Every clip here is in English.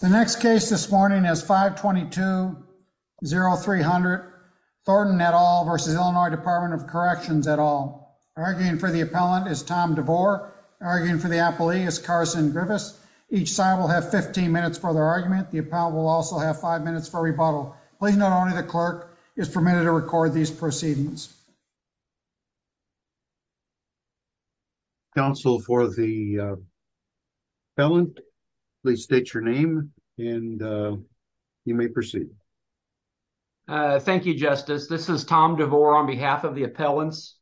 The next case this morning is 522-0300 Thornton et al. v. Illinois Department of Corrections et al. Arguing for the appellant is Tom DeVore. Arguing for the appellee is Carson Griffiths. Each side will have 15 minutes for their argument. The appellant will also have five minutes for rebuttal. Please note only the clerk is permitted to record these proceedings. Counsel for the appellant, please state your name and you may proceed. Thank you, Justice. This is Tom DeVore on behalf of the appellants.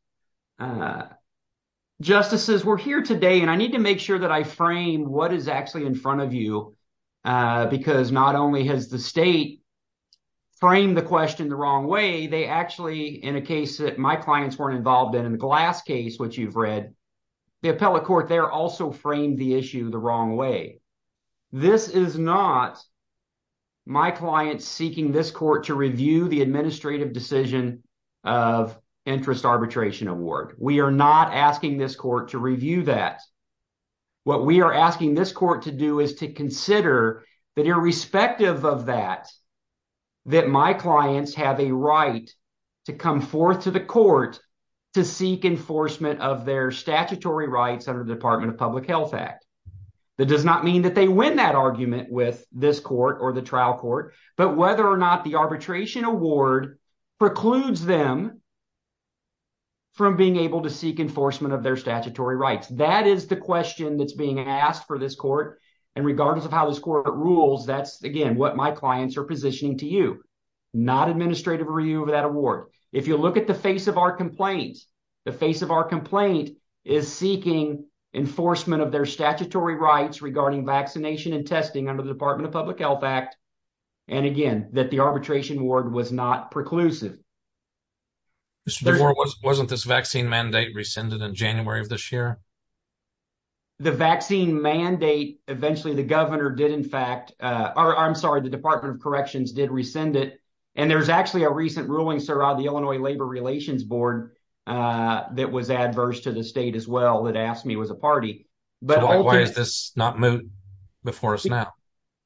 Justices, we're here today and I need to make sure that I frame what is actually in front of you because not only has the state framed the question the wrong way, they actually, in a case that my clients weren't involved in, in the Glass case which you've read, the appellate court there also framed the issue the wrong way. This is not my client seeking this court to review the administrative decision of interest arbitration award. We are not asking this court to review that. What we are asking this court to do is to consider that irrespective of that, that my clients have a right to come forth to the court to seek enforcement of their statutory rights under the Department of Public Health Act. That does not mean that they win that argument with this court or the trial court, but whether or not the arbitration award precludes them from being able to seek enforcement of their statutory rights. That is the question that's being asked for this court and regardless of how this court rules, that's again what my clients are positioning to you, not administrative review of that award. If you look at the face of our complaint, the face of our complaint is seeking enforcement of their statutory rights regarding vaccination and testing under the Department of Public Health Act and again that the arbitration award was not preclusive. Mr. DeVore, wasn't this vaccine mandate rescinded in January of this year? The vaccine mandate, eventually the governor did in fact, or I'm sorry, the Department of Corrections did rescind it and there's actually a recent ruling, sir, out of the Illinois Labor Relations Board that was adverse to the state as well that asked me as a party. But why is this not moved before us now?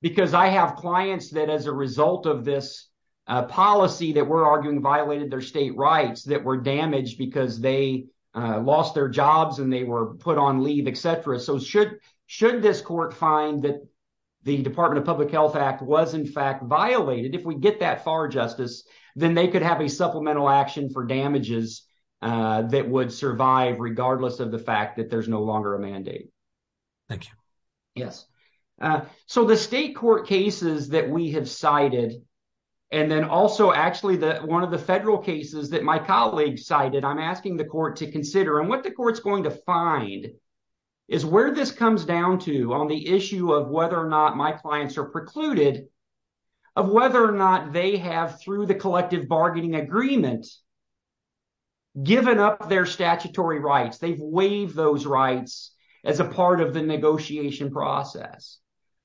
Because I have clients that as a result of this policy that we're arguing violated their state rights that were damaged because they lost their jobs and they were put on leave, etc. So should this court find that the Department of Public Health Act was in fact violated, if we get that far justice, then they could have a supplemental action for damages that would survive regardless of the fact that there's no longer a mandate. Thank you. Yes, so the state court cases that we have cited and then also actually the one of the federal cases that my colleague cited, I'm asking the court to consider and what the court's going to find is where this comes down to on the issue of whether or not my clients are precluded, of whether or not they have through the collective bargaining agreement given up their statutory rights, they've waived those rights as a part of the negotiation process.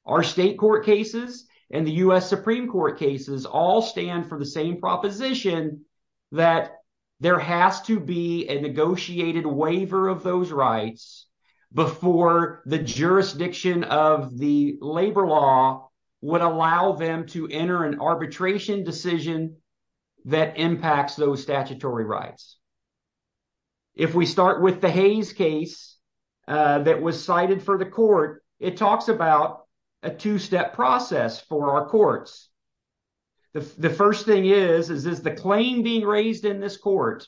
Our state court cases and the U.S. Supreme Court cases all stand for the same proposition that there has to be a negotiated waiver of those rights before the jurisdiction of the labor law would allow them to enter an arbitration decision that impacts those statutory rights. If we start with the Hayes case that was cited for the court, it talks about a two-step process for our courts. The first thing is, is the claim being raised in this court,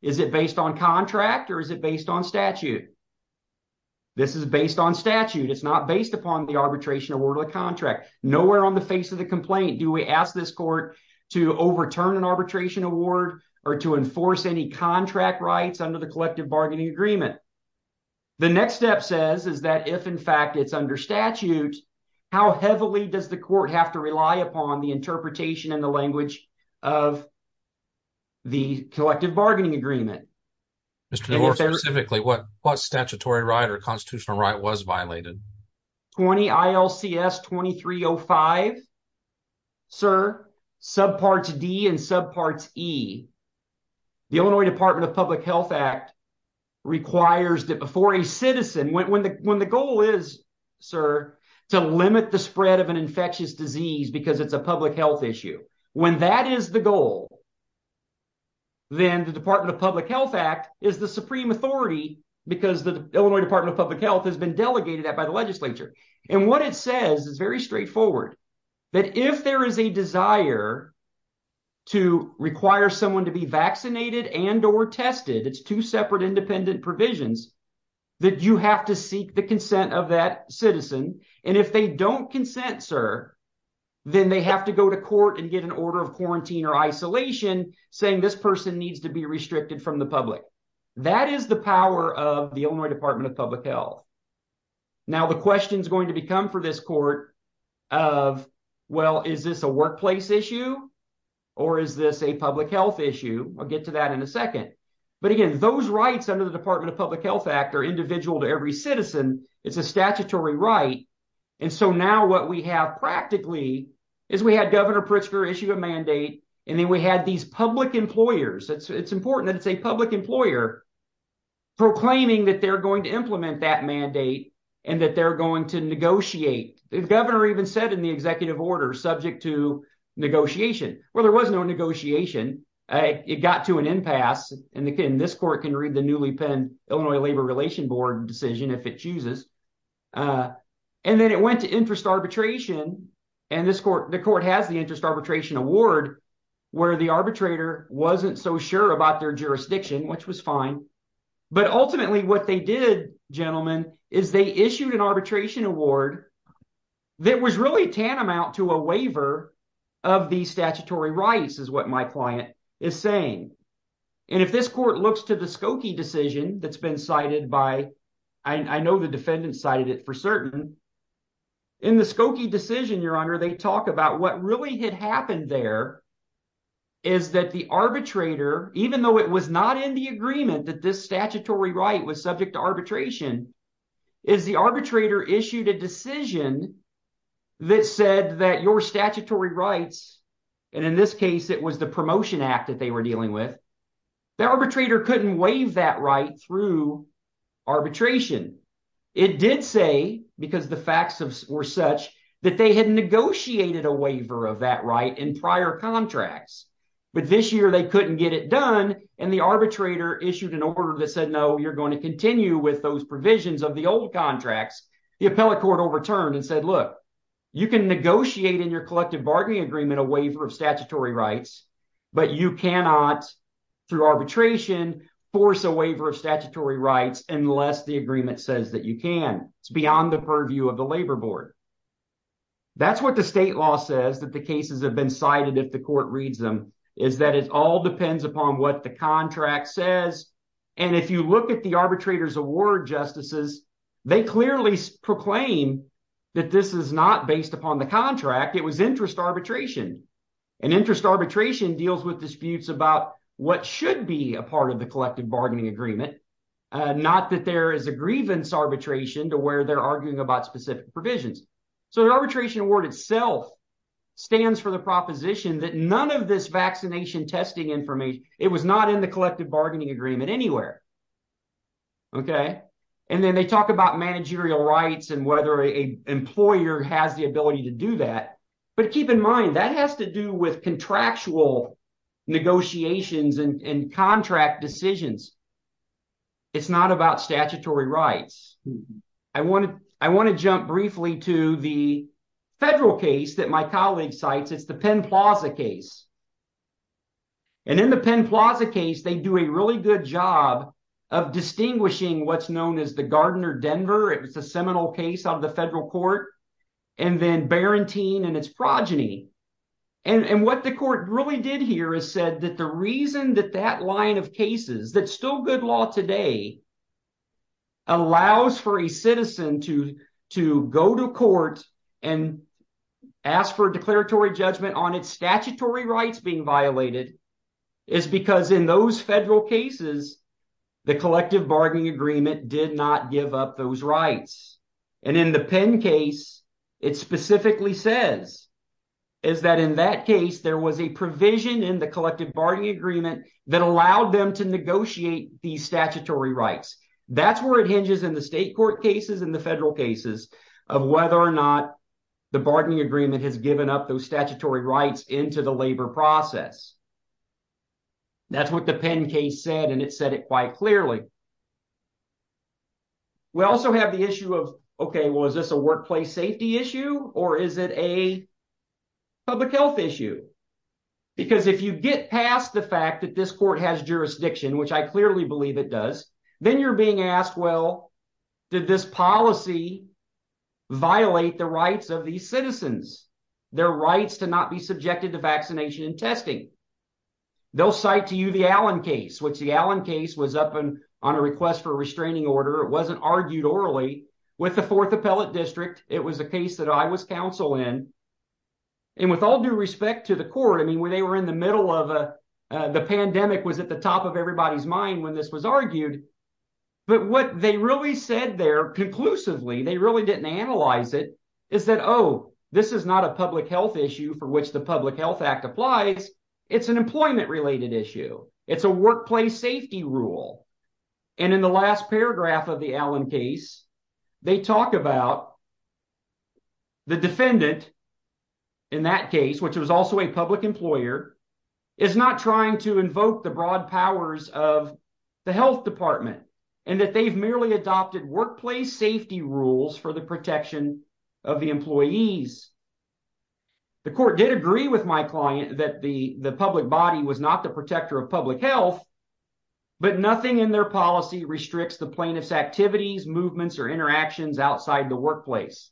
is it based on contract or is it based on statute? This is based on statute. It's not based upon the nowhere on the face of the complaint. Do we ask this court to overturn an arbitration award or to enforce any contract rights under the collective bargaining agreement? The next step says is that if in fact it's under statute, how heavily does the court have to rely upon the interpretation and the language of the collective bargaining agreement? More specifically, what statutory right or constitutional right was violated? 20 ILCS 2305, sir, subparts D and subparts E. The Illinois Department of Public Health Act requires that before a citizen, when the goal is, sir, to limit the spread of an infectious disease because it's a public health issue, when that is the goal, then the Department of Public Health Act is the supreme authority because the Illinois Department of Public Health has been delegated that by the legislature. And what it says is very straightforward, that if there is a desire to require someone to be vaccinated and or tested, it's two separate independent provisions, that you have to seek the consent of that citizen. And if they don't consent, sir, then they have to go to court and get an order of quarantine or isolation saying this person needs to be restricted from the public. That is the power of the Illinois Department of Public Health. Now, the question is going to become for this court of, well, is this a workplace issue or is this a public health issue? I'll get to that in a second. But again, those rights under the Department of Public Health Act are individual to every citizen. It's a statutory right. And so now what we have practically is we had Governor Pritzker issue a mandate and then we had these employers. It's important that it's a public employer proclaiming that they're going to implement that mandate and that they're going to negotiate. The governor even said in the executive order subject to negotiation. Well, there was no negotiation. It got to an impasse and again, this court can read the newly penned Illinois Labor Relations Board decision if it chooses. And then it went to interest arbitration and the court has the interest arbitration award where the arbitrator wasn't so sure about their jurisdiction, which was fine. But ultimately what they did, gentlemen, is they issued an arbitration award that was really tantamount to a waiver of the statutory rights is what my client is saying. And if this court looks to the Skokie decision that's been cited by, I know the defendant cited it for certain, in the Skokie decision, your honor, they talk about what really had happened there is that the arbitrator, even though it was not in the agreement that this statutory right was subject to arbitration, is the arbitrator issued a decision that said that your statutory rights, and in this case it was the promotion act that they were dealing with, the arbitrator couldn't waive that right through arbitration. It did say, because the facts were such, that they had negotiated a waiver of that right in prior contracts, but this year they couldn't get it done and the arbitrator issued an order that said, no, you're going to continue with those provisions of the old contracts. The appellate court overturned and said, look, you can negotiate in your collective bargaining agreement a waiver of statutory rights, but you cannot, through arbitration, force a waiver of statutory rights, unless the agreement says that you can. It's beyond the purview of the labor board. That's what the state law says, that the cases have been cited if the court reads them, is that it all depends upon what the contract says. And if you look at the arbitrator's award, justices, they clearly proclaim that this is not based upon the contract. It was interest arbitration. And interest arbitration deals with disputes about what should be a part of the collective bargaining agreement, not that there is a grievance arbitration to where they're arguing about specific provisions. So the arbitration award itself stands for the proposition that none of this vaccination testing information, it was not in the collective bargaining agreement anywhere. And then they talk about managerial rights and whether an employer has the ability to do that. But keep in mind, that has to do with contractual negotiations and contract decisions. It's not about statutory rights. I want to jump briefly to the federal case that my colleague cites. It's the Penn Plaza case. And in the Penn Plaza case, they do a really good job of distinguishing what's known as the Gardner-Denver. It was a seminal case of the federal court and then Barentine and its progeny. And what the court really did here is said that the reason that that line of cases, that's still good law today, allows for a citizen to go to court and ask for a declaratory judgment on its statutory rights being violated is because in those federal cases, the collective bargaining agreement did not give up those rights. And in the Penn case, it specifically says is that in that case, there was a provision in the collective bargaining agreement that allowed them to negotiate these statutory rights. That's where it hinges in the state court cases and the federal cases of whether or not the bargaining agreement has given up those and it said it quite clearly. We also have the issue of, okay, well, is this a workplace safety issue or is it a public health issue? Because if you get past the fact that this court has jurisdiction, which I clearly believe it does, then you're being asked, well, did this policy violate the rights of these citizens, their rights to not be subjected to vaccination and testing? They'll cite to you the Allen case, which the Allen case was up on a request for a restraining order. It wasn't argued orally with the fourth appellate district. It was a case that I was counsel in. And with all due respect to the court, I mean, when they were in the middle of the pandemic was at the top of everybody's mind when this was argued. But what they really said there conclusively, they really didn't analyze it, is that, oh, this is not a public health issue for which the public health act applies. It's an employment related issue. It's a workplace safety rule. And in the last paragraph of the Allen case, they talk about the defendant in that case, which was also a public employer, is not trying to invoke the broad powers of the health department and that they've merely adopted workplace safety rules for the protection of the employees. The court did agree with my client that the public body was not the protector of public health, but nothing in their policy restricts the plaintiff's activities, movements, or interactions outside the workplace.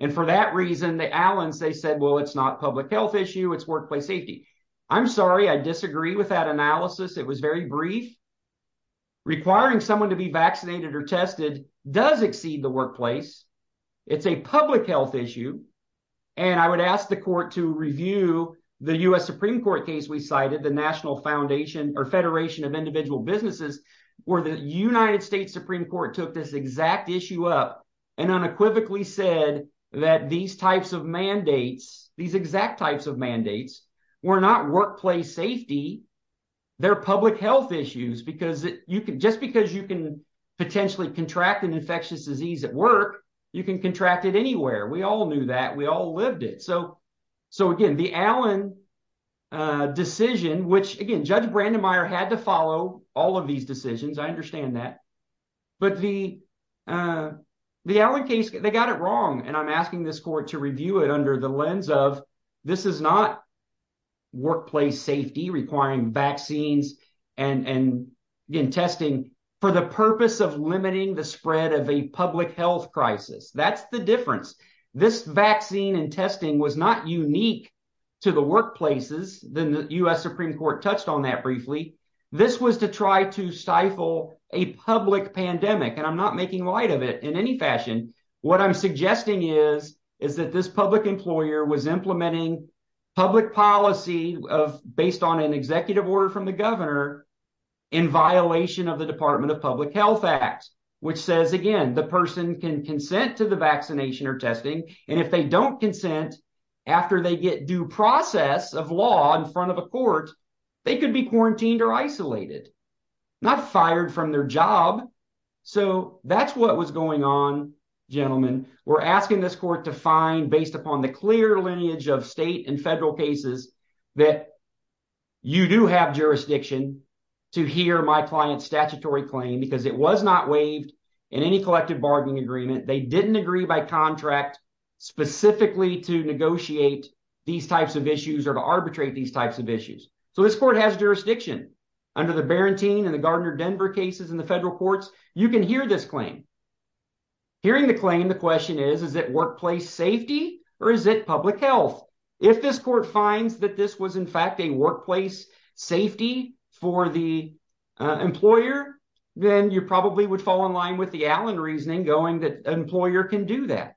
And for that reason, the Allens, they said, well, it's not public health issue, it's workplace safety. I'm sorry, I disagree with that analysis. It was very brief. Requiring someone to be vaccinated or tested does exceed the workplace. It's a public health issue. And I would ask the court to review the U.S. Supreme Court case we cited, the National Foundation or Federation of Individual Businesses, where the United States Supreme Court took this exact issue up and unequivocally said that these types of mandates, these exact types of mandates were not workplace safety, they're public health issues. Just because you can potentially contract an infectious disease at work, you can contract it anywhere. We all knew that, we all lived it. So again, the Allen decision, which again, Judge Brandemeier had to follow all of these decisions, I understand that. But the Allen case, they got it wrong. And I'm asking this court to review it under the lens of this is not workplace safety requiring vaccines and again, testing for the public health crisis. That's the difference. This vaccine and testing was not unique to the workplaces. The U.S. Supreme Court touched on that briefly. This was to try to stifle a public pandemic and I'm not making light of it in any fashion. What I'm suggesting is that this public employer was implementing public policy based on an executive order from the governor in violation of the Department of Public Health Act, which says again, the person can consent to the vaccination or testing and if they don't consent after they get due process of law in front of a court, they could be quarantined or isolated, not fired from their job. So that's what was going on, gentlemen. We're asking this court to find based upon the clear lineage of state and federal cases that you do have jurisdiction to hear my client's statutory claim because it was not waived in any collective bargaining agreement. They didn't agree by contract specifically to negotiate these types of issues or to arbitrate these types of issues. So this court has jurisdiction under the Barentine and the Gardner Denver cases in the federal courts. You can hear this claim. Hearing the claim, the question is, is it workplace safety or is it public health? If this court finds that this was in fact a workplace safety for the employer, then you probably would fall in line with the Allen reasoning going that an employer can do that.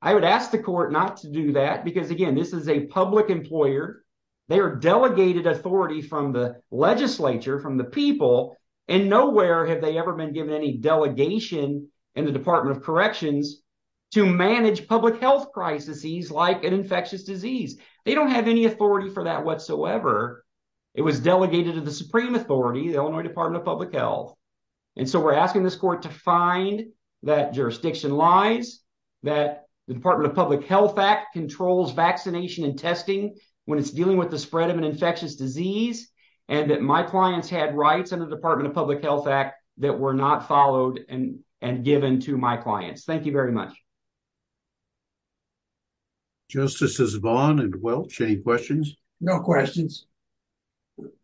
I would ask the court not to do that because again, this is a public employer. They are delegated authority from the legislature, from the people and nowhere have they ever been given any delegation in the Department of Corrections to manage public health crises like an infectious disease. They don't have any authority for that whatsoever. It was delegated to the Supreme Authority, the Illinois Department of Public Health. So we're asking this court to find that jurisdiction lies, that the Department of Public Health Act controls vaccination and testing when it's dealing with the spread of an infectious disease, and that my clients had rights under the Department of Public Health Act that were not followed and given to my clients. Thank you very much. Justices Vaughn and Welch, any questions? No questions.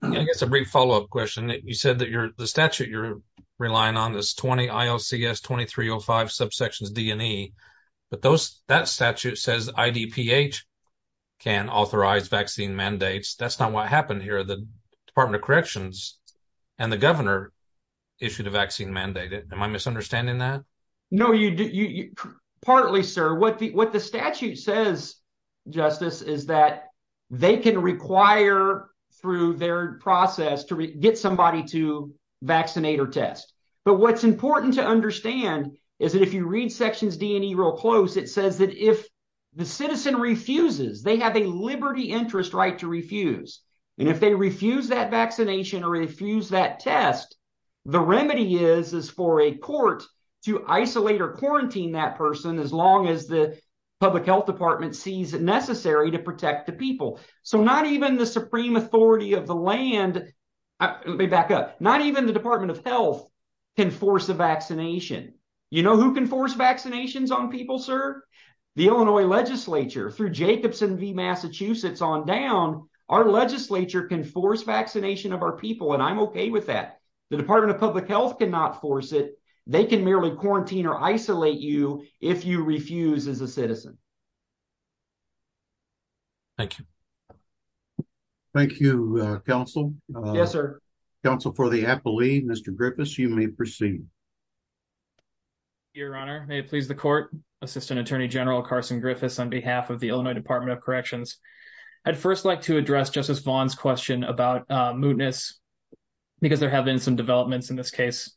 I guess a brief follow-up question. You said that the statute you're relying on is 20 ILCS 2305 subsections D and E, but that statute says IDPH can authorize vaccine mandates. That's not what happened here. The Department of Corrections and the governor issued a vaccine mandate. Am I misunderstanding that? No, partly, sir. What the statute says, Justice, is that they can require, through their process, to get somebody to vaccinate or test. But what's important to understand is that if you read sections D and E real close, it says that if the citizen refuses, they have a liberty interest right to refuse. And if they refuse that vaccination or refuse that isolation or quarantine that person, as long as the public health department sees it necessary to protect the people. So not even the supreme authority of the land, let me back up, not even the Department of Health can force a vaccination. You know who can force vaccinations on people, sir? The Illinois legislature. Through Jacobson v. Massachusetts on down, our legislature can force vaccination of our people, and I'm okay with that. The Department of Public Health cannot force it. They can merely quarantine or isolate you if you refuse as a citizen. Thank you. Thank you, counsel. Yes, sir. Counsel for the appellee, Mr. Griffiths, you may proceed. Your honor, may it please the court. Assistant Attorney General Carson Griffiths on behalf of the Illinois Department of Corrections. I'd first like to address Justice Vaughn's question about developments in this case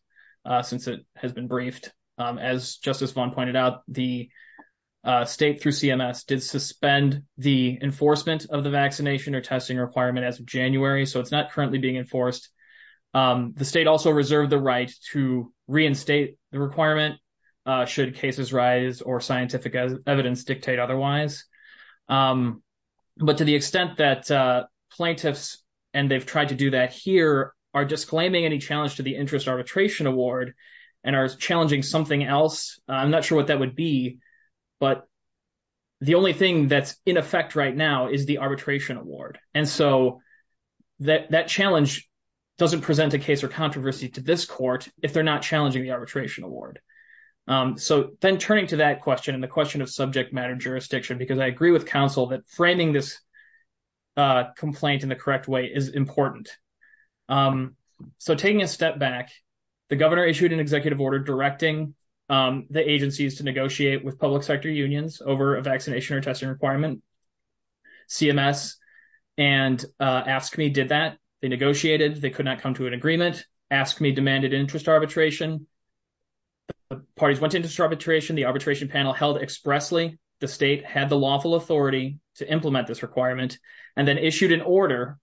since it has been briefed. As Justice Vaughn pointed out, the state through CMS did suspend the enforcement of the vaccination or testing requirement as of January, so it's not currently being enforced. The state also reserved the right to reinstate the requirement should cases rise or scientific evidence dictate otherwise. But to the extent that plaintiffs and they've tried to do that here are disclaiming any challenge to the interest arbitration award and are challenging something else, I'm not sure what that would be, but the only thing that's in effect right now is the arbitration award. And so that challenge doesn't present a case or controversy to this court if they're not challenging the arbitration award. So then turning to that question and the question of subject matter because I agree with counsel that framing this complaint in the correct way is important. So taking a step back, the governor issued an executive order directing the agencies to negotiate with public sector unions over a vaccination or testing requirement, CMS, and AFSCME did that. They negotiated. They could not come to an agreement. AFSCME demanded interest arbitration. The parties went into arbitration. The arbitration panel held expressly the state had the lawful authority to implement this requirement and then issued an order,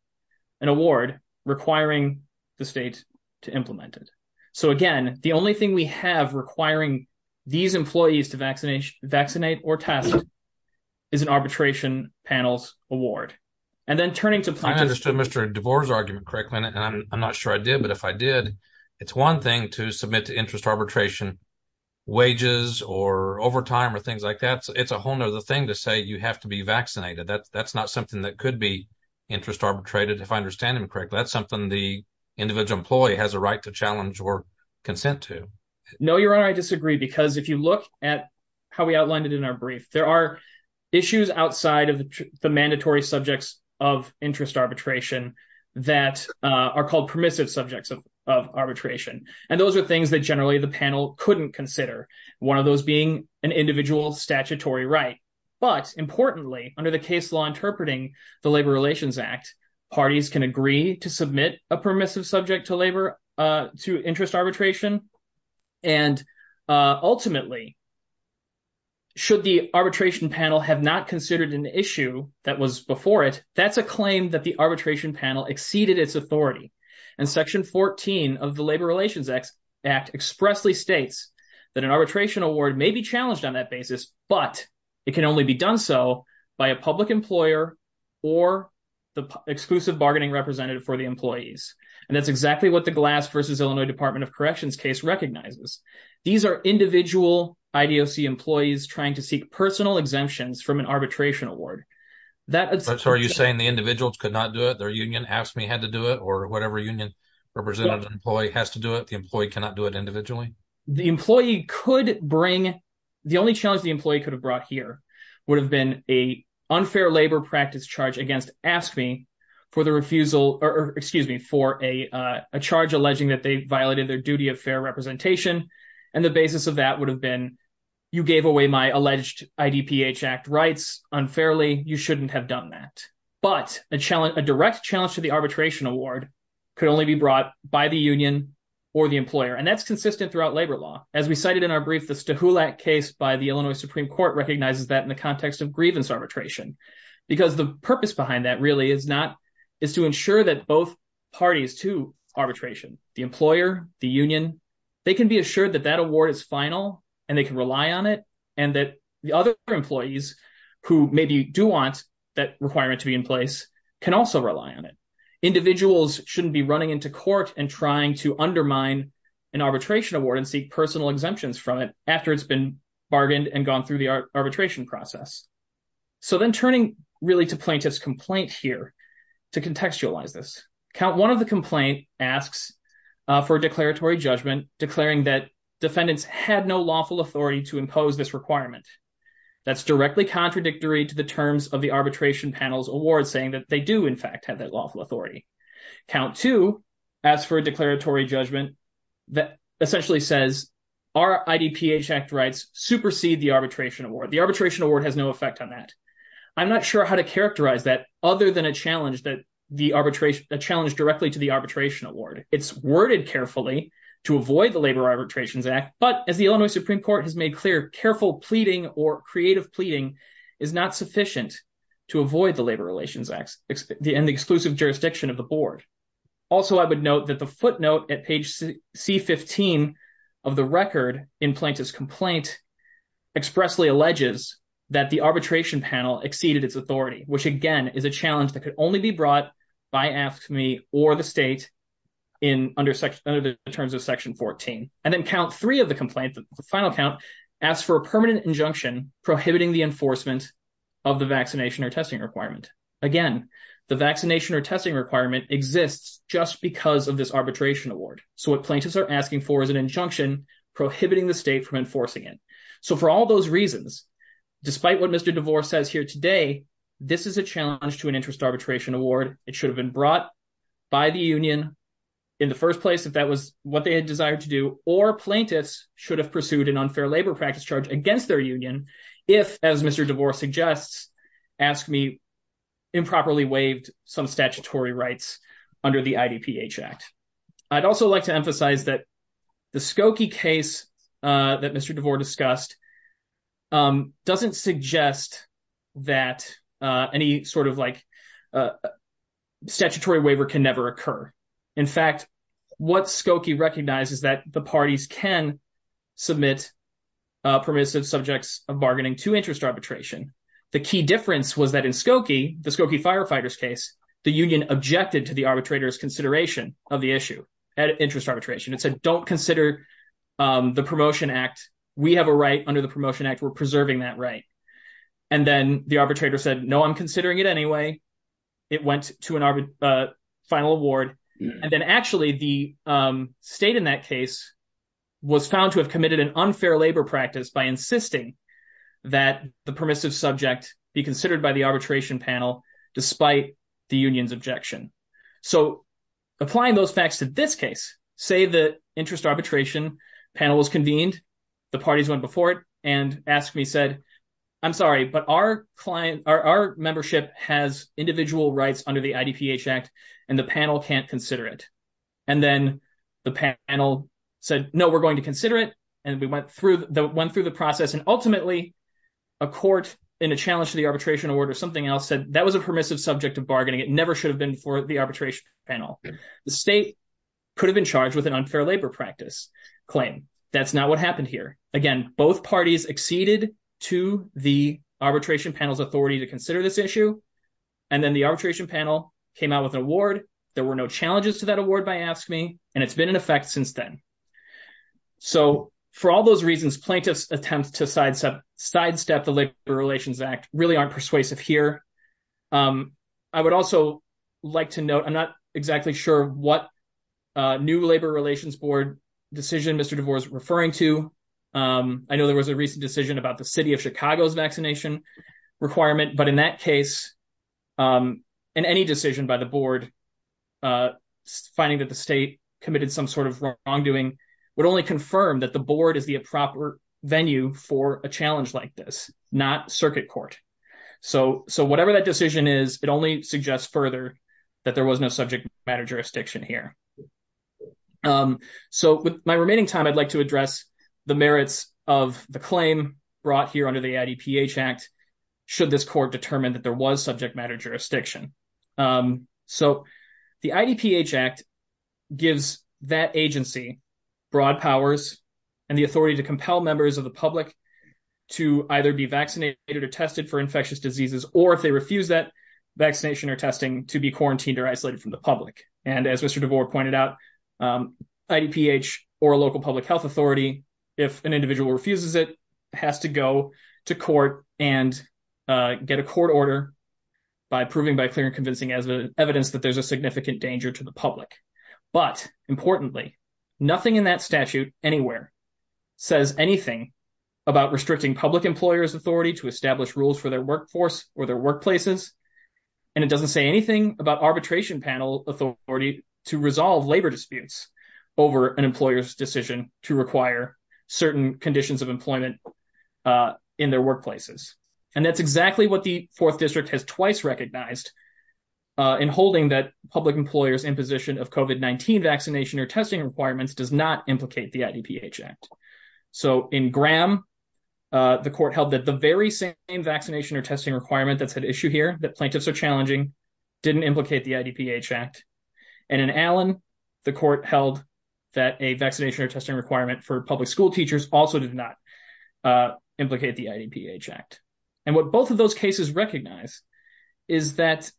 an award, requiring the state to implement it. So again, the only thing we have requiring these employees to vaccinate or test is an arbitration panel's award. And then turning to plaintiffs. I understood Mr. DeVore's argument correctly and I'm not sure I did, but if I did, it's one thing to submit to interest arbitration wages or overtime or things like that. It's a whole other thing to say you have to be vaccinated. That's not something that could be interest arbitrated if I understand him correctly. That's something the individual employee has a right to challenge or consent to. No, your honor, I disagree because if you look at how we outlined it in our brief, there are issues outside of the mandatory subjects of interest arbitration that are called permissive subjects of arbitration. And those are things that generally the panel couldn't consider. One of those being an individual statutory right. But importantly, under the case law interpreting the Labor Relations Act, parties can agree to submit a permissive subject to labor to interest arbitration. And ultimately, should the arbitration panel have not considered an issue that was before it, that's a claim that the arbitration panel exceeded its authority. And Section 14 of the Labor Relations Act expressly states that an arbitration award may be challenged on that basis, but it can only be done so by a public employer or the exclusive bargaining representative for the employees. And that's exactly what the Glass v. Illinois Department of Corrections case recognizes. These are individual IDOC employees trying to seek personal exemptions from an arbitration award. So are you saying the AFSCME had to do it or whatever union representative employee has to do it, the employee cannot do it individually? The only challenge the employee could have brought here would have been an unfair labor practice charge against AFSCME for a charge alleging that they violated their duty of fair representation. And the basis of that would have been, you gave away my alleged IDPH Act rights unfairly, you shouldn't have done that. But a direct challenge to the arbitration award could only be brought by the union or the employer. And that's consistent throughout labor law. As we cited in our brief, the Stuhulak case by the Illinois Supreme Court recognizes that in the context of grievance arbitration. Because the purpose behind that really is to ensure that both parties to arbitration, the employer, the union, they can be assured that that award is final, and they can rely on it, and that the other employees who maybe do want that requirement to be in place can also rely on it. Individuals shouldn't be running into court and trying to undermine an arbitration award and seek personal exemptions from it after it's been bargained and gone through the arbitration process. So then turning really to plaintiff's complaint here to contextualize this. Count one of the complaint asks for a declaratory judgment declaring that defendants had no lawful authority to impose this requirement. That's directly contradictory to the terms of the arbitration panel's award saying that they do in fact have that lawful authority. Count two asks for a declaratory judgment that essentially says our IDPH Act rights supersede the arbitration award. The arbitration award has no effect on that. I'm not sure how to characterize that other than a challenge that the arbitration, a challenge directly to the arbitration award. It's worded carefully to avoid the Labor Arbitrations Act, but as the Illinois Supreme Court has made clear, careful pleading or creative pleading is not sufficient to avoid the Labor Relations Act and the exclusive jurisdiction of the board. Also, I would note that the footnote at page C-15 of the record in plaintiff's complaint expressly alleges that the arbitration panel exceeded its authority, which again is a challenge that could only be brought by AFSCME or the state under the terms of section 14. And then count three of the complaint, the final count, asks for a permanent injunction prohibiting the enforcement of the vaccination or testing requirement. Again, the vaccination or testing requirement exists just because of this arbitration award. So what plaintiffs are asking for is an injunction prohibiting the state from enforcing it. So for all those reasons, despite what Mr. DeVore says here today, this is a challenge to an interest arbitration award. It should have been should have pursued an unfair labor practice charge against their union if, as Mr. DeVore suggests, AFSCME improperly waived some statutory rights under the IDPH Act. I'd also like to emphasize that the Skokie case that Mr. DeVore discussed doesn't suggest that any sort of like submit permissive subjects of bargaining to interest arbitration. The key difference was that in Skokie, the Skokie firefighters case, the union objected to the arbitrator's consideration of the issue at interest arbitration. It said, don't consider the Promotion Act. We have a right under the Promotion Act. We're preserving that right. And then the arbitrator said, no, I'm considering it it went to an final award. And then actually the state in that case was found to have committed an unfair labor practice by insisting that the permissive subject be considered by the arbitration panel despite the union's objection. So applying those facts to this case, say the interest arbitration panel was convened. The parties went before it and AFSCME said, I'm sorry, but our client, our membership has individual rights under the IDPH Act, and the panel can't consider it. And then the panel said, no, we're going to consider it. And we went through the process. And ultimately a court in a challenge to the arbitration award or something else said that was a permissive subject of bargaining. It never should have been for the arbitration panel. The state could have been charged with an unfair labor practice claim. That's not what happened here. Again, both parties acceded to the arbitration panel's authority to consider this issue. And then the arbitration panel came out with an award. There were no challenges to that award by AFSCME. And it's been in effect since then. So for all those reasons, plaintiffs attempts to sidestep the Labor Relations Act really aren't persuasive here. Um, I would also like to note, I'm not exactly sure what, uh, new Labor Relations Board decision Mr. DeVore is referring to. Um, I know there was a recent decision about the city of Chicago's vaccination requirement, but in that case, um, and any decision by the board, uh, finding that the state committed some sort of wrongdoing would only confirm that the board is the proper venue for a challenge like this, not circuit court. So, so whatever that decision is, it only suggests further that there was no subject matter jurisdiction here. Um, so with my remaining time, I'd like to address the merits of the claim brought here under the IDPH Act, should this court determined that there was subject matter jurisdiction. Um, the IDPH Act gives that agency broad powers and the authority to compel members of the public to either be vaccinated or tested for infectious diseases, or if they refuse that vaccination or testing to be quarantined or isolated from the public. And as Mr. DeVore pointed out, um, IDPH or a local public health authority, if an individual refuses, it has to go to court and, uh, get a court order by proving by clear and convincing as evidence that there's a significant danger to the public. But importantly, nothing in that statute anywhere says anything about restricting public employers authority to establish rules for their workforce or their workplaces. And it doesn't say anything about arbitration panel authority to resolve labor disputes over an employer's decision to require certain conditions of employment, uh, in their workplaces. And that's exactly what the fourth district has twice recognized, uh, in holding that public employers in position of COVID-19 vaccination or testing requirements does not implicate the IDPH Act. So in Graham, uh, the court held that the very same vaccination or testing requirement that's at issue here, that plaintiffs are challenging, didn't implicate the court held that a vaccination or testing requirement for public school teachers also did not, uh, implicate the IDPH Act. And what both of those cases recognize is that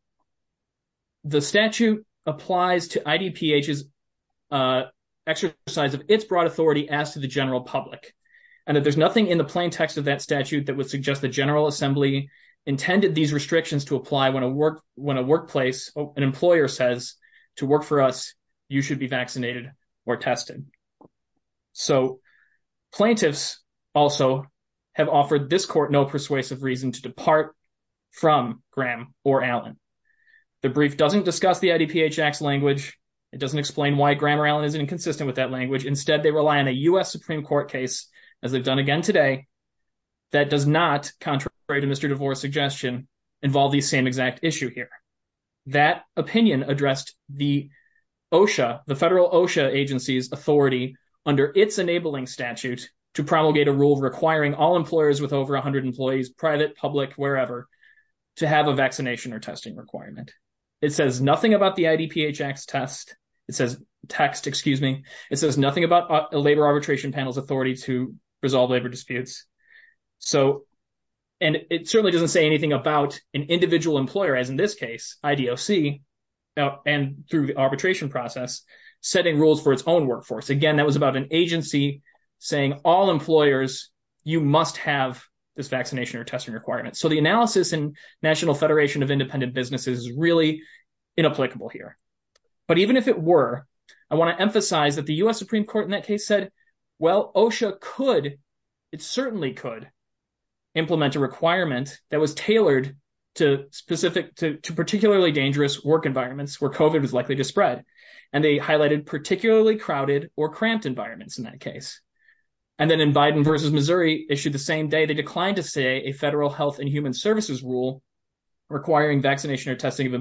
the statute applies to IDPH's, uh, exercise of its broad authority as to the general public. And that there's nothing in the plain text of that statute that would suggest the general assembly intended these restrictions to apply when a work, when a workplace, an employer says to work for us, you should be vaccinated or tested. So plaintiffs also have offered this court no persuasive reason to depart from Graham or Allen. The brief doesn't discuss the IDPH Act's language. It doesn't explain why Graham or Allen is inconsistent with that language. Instead, they rely on a U.S. Supreme Court case, as they've done again today, that does not, contrary to Mr. DeVore's suggestion, involve the same exact issue here. That opinion addressed the OSHA, the federal OSHA agency's authority under its enabling statute to promulgate a rule requiring all employers with over 100 employees, private, public, wherever, to have a vaccination or testing requirement. It says nothing about the IDPH Act's test. It says, text, excuse me, it says nothing about a labor arbitration panel's authority to resolve labor disputes. So, and it certainly doesn't say anything about an individual employer, as in this case, IDOC, and through the arbitration process, setting rules for its own workforce. Again, that was about an agency saying all employers, you must have this vaccination or testing requirement. So the analysis in National Federation of Independent Businesses is really inapplicable here. But even if it were, I want to emphasize that the U.S. Supreme Court in that case said, well, OSHA could, it certainly could, implement a requirement that was tailored to specific, to particularly dangerous work environments where COVID was likely to spread. And they highlighted particularly crowded or cramped environments in that case. And then in Biden versus Missouri issued the same day, they declined to say a federal health and human services rule requiring vaccination or testing of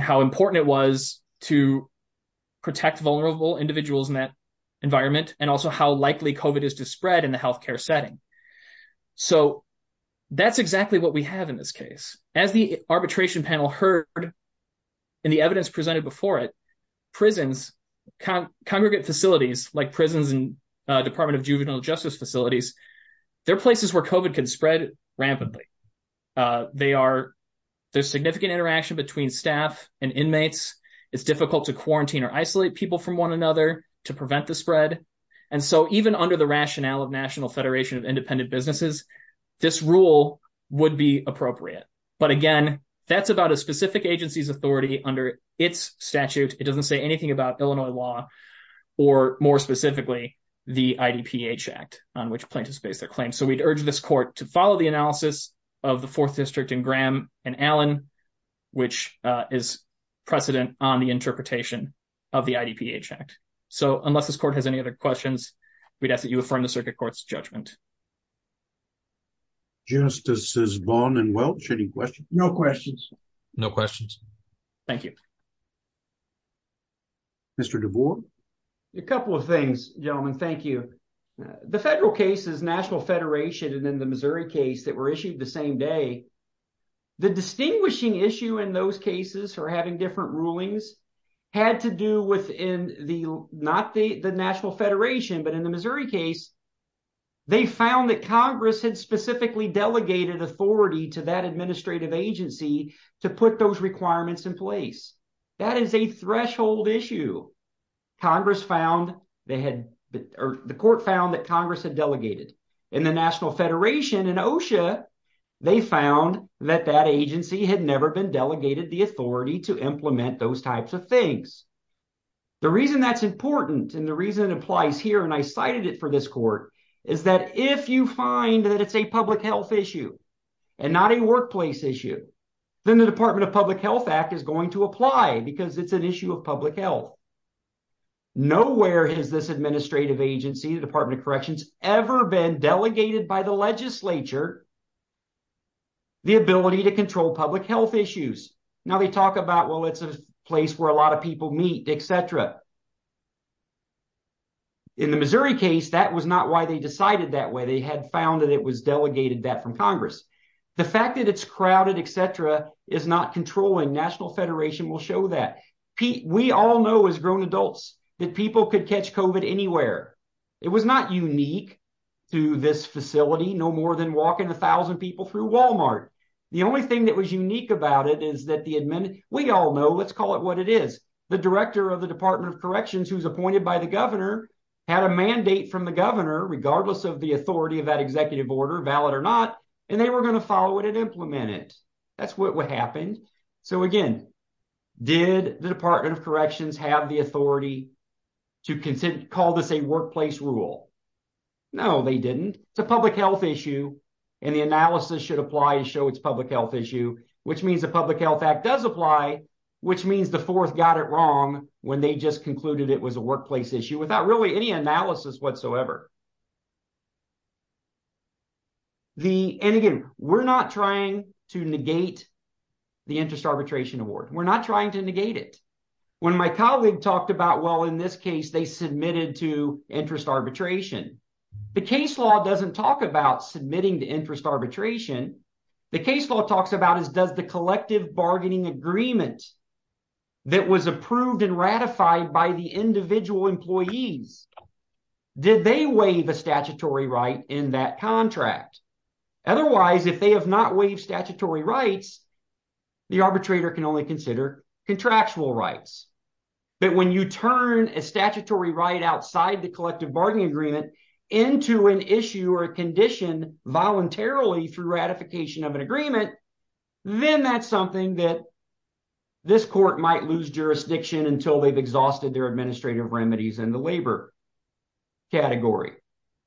how important it was to protect vulnerable individuals in that environment, and also how likely COVID is to spread in the healthcare setting. So that's exactly what we have in this case. As the arbitration panel heard in the evidence presented before it, prisons, congregate facilities like prisons and Department of Juvenile Justice facilities, they're places where COVID can and inmates. It's difficult to quarantine or isolate people from one another to prevent the spread. And so even under the rationale of National Federation of Independent Businesses, this rule would be appropriate. But again, that's about a specific agency's authority under its statute. It doesn't say anything about Illinois law or more specifically the IDPH Act on which plaintiffs base their claims. So we'd urge this court to follow the analysis of the fourth is precedent on the interpretation of the IDPH Act. So unless this court has any other questions, we'd ask that you affirm the circuit court's judgment. Justices Vaughn and Welch, any questions? No questions. No questions. Thank you. Mr. DeVore. A couple of things, gentlemen. Thank you. The federal cases, National Federation and the Missouri case that were issued the same day, the distinguishing issue in those cases for having different rulings had to do with not the National Federation, but in the Missouri case, they found that Congress had specifically delegated authority to that administrative agency to put those requirements in place. That is a threshold issue. The court found that Congress had delegated. In the National Federation, in OSHA, they found that that agency had never been delegated the authority to implement those types of things. The reason that's important and the reason it applies here, and I cited it for this court, is that if you find that it's a public health issue and not a workplace issue, then the Department of Public Health Act is going to apply because it's an issue of public health. Nowhere has this administrative agency, the Department of Corrections, ever been delegated by the legislature the ability to control public health issues. Now they talk about, well, it's a place where a lot of people meet, etc. In the Missouri case, that was not why they decided that way. They had found that it was delegated that from Congress. The fact that it's crowded, etc., is not controlling. National Federation will show that. We all know as grown adults that people could catch COVID anywhere. It was not unique to this facility, no more than walking 1,000 people through Walmart. The only thing that was unique about it is that the admin... We all know, let's call it what it is. The director of the Department of Corrections, who's appointed by the governor, had a mandate from the governor, regardless of the authority of that executive order, valid or not, and they were going to follow it and implement it. That's what happened. So again, did the Department of Corrections apply the workplace rule? No, they didn't. It's a public health issue, and the analysis should apply to show it's a public health issue, which means the Public Health Act does apply, which means the fourth got it wrong when they just concluded it was a workplace issue, without really any analysis whatsoever. And again, we're not trying to negate the interest arbitration. The case law doesn't talk about submitting the interest arbitration. The case law talks about is does the collective bargaining agreement that was approved and ratified by the individual employees, did they waive a statutory right in that contract? Otherwise, if they have not waived statutory rights, the arbitrator can only consider contractual rights. But when you turn a statutory right outside the collective bargaining agreement into an issue or a condition voluntarily through ratification of an agreement, then that's something that this court might lose jurisdiction until they've exhausted their administrative remedies in the labor category.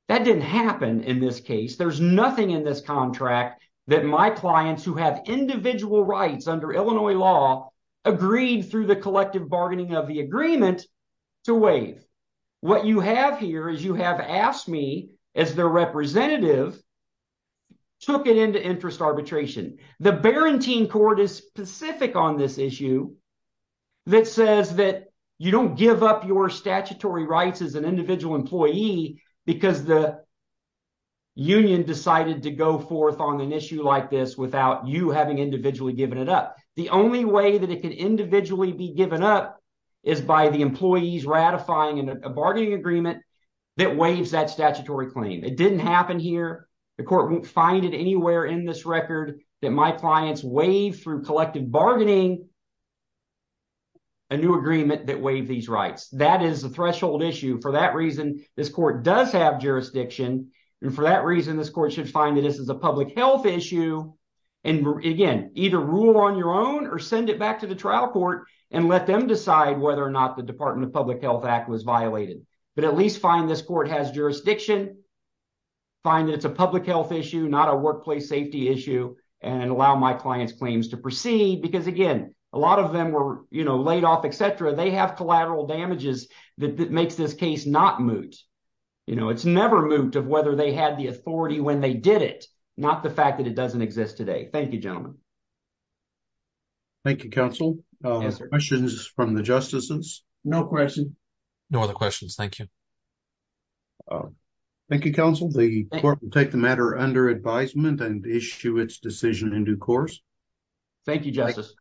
That didn't happen in this case. There's nothing in this contract that my clients who have individual rights under Illinois law agreed through the collective bargaining of the agreement to waive. What you have here is you have asked me as their representative, took it into interest arbitration. The Barentine court is specific on this issue that says that you don't give up your statutory rights as an individual employee because the union decided to go forth on an issue like this without you having individually given it up. The only way that it can individually be given up is by the employees ratifying a bargaining agreement that waives that statutory claim. It didn't happen here. The court won't find it anywhere in this record that my clients waive through collective bargaining a new agreement that waive these rights. That is a threshold issue. For that reason, this court does have jurisdiction. For that reason, this court should find that this is a public health issue. Again, either rule on your own or send it back to the trial court and let them decide whether or not the Department of Public Health Act was violated. At least find this court has jurisdiction, find that it's a public health issue, not a workplace safety issue, and allow my clients' claims to proceed. Again, a lot of them were laid off, etc. They have damages that makes this case not moot. It's never moot of whether they had the authority when they did it, not the fact that it doesn't exist today. Thank you, gentlemen. Thank you, counsel. Questions from the justices? No questions. No other questions. Thank you. Thank you, counsel. The court will take the matter under advisement and issue its decision in due course. Thank you, justice.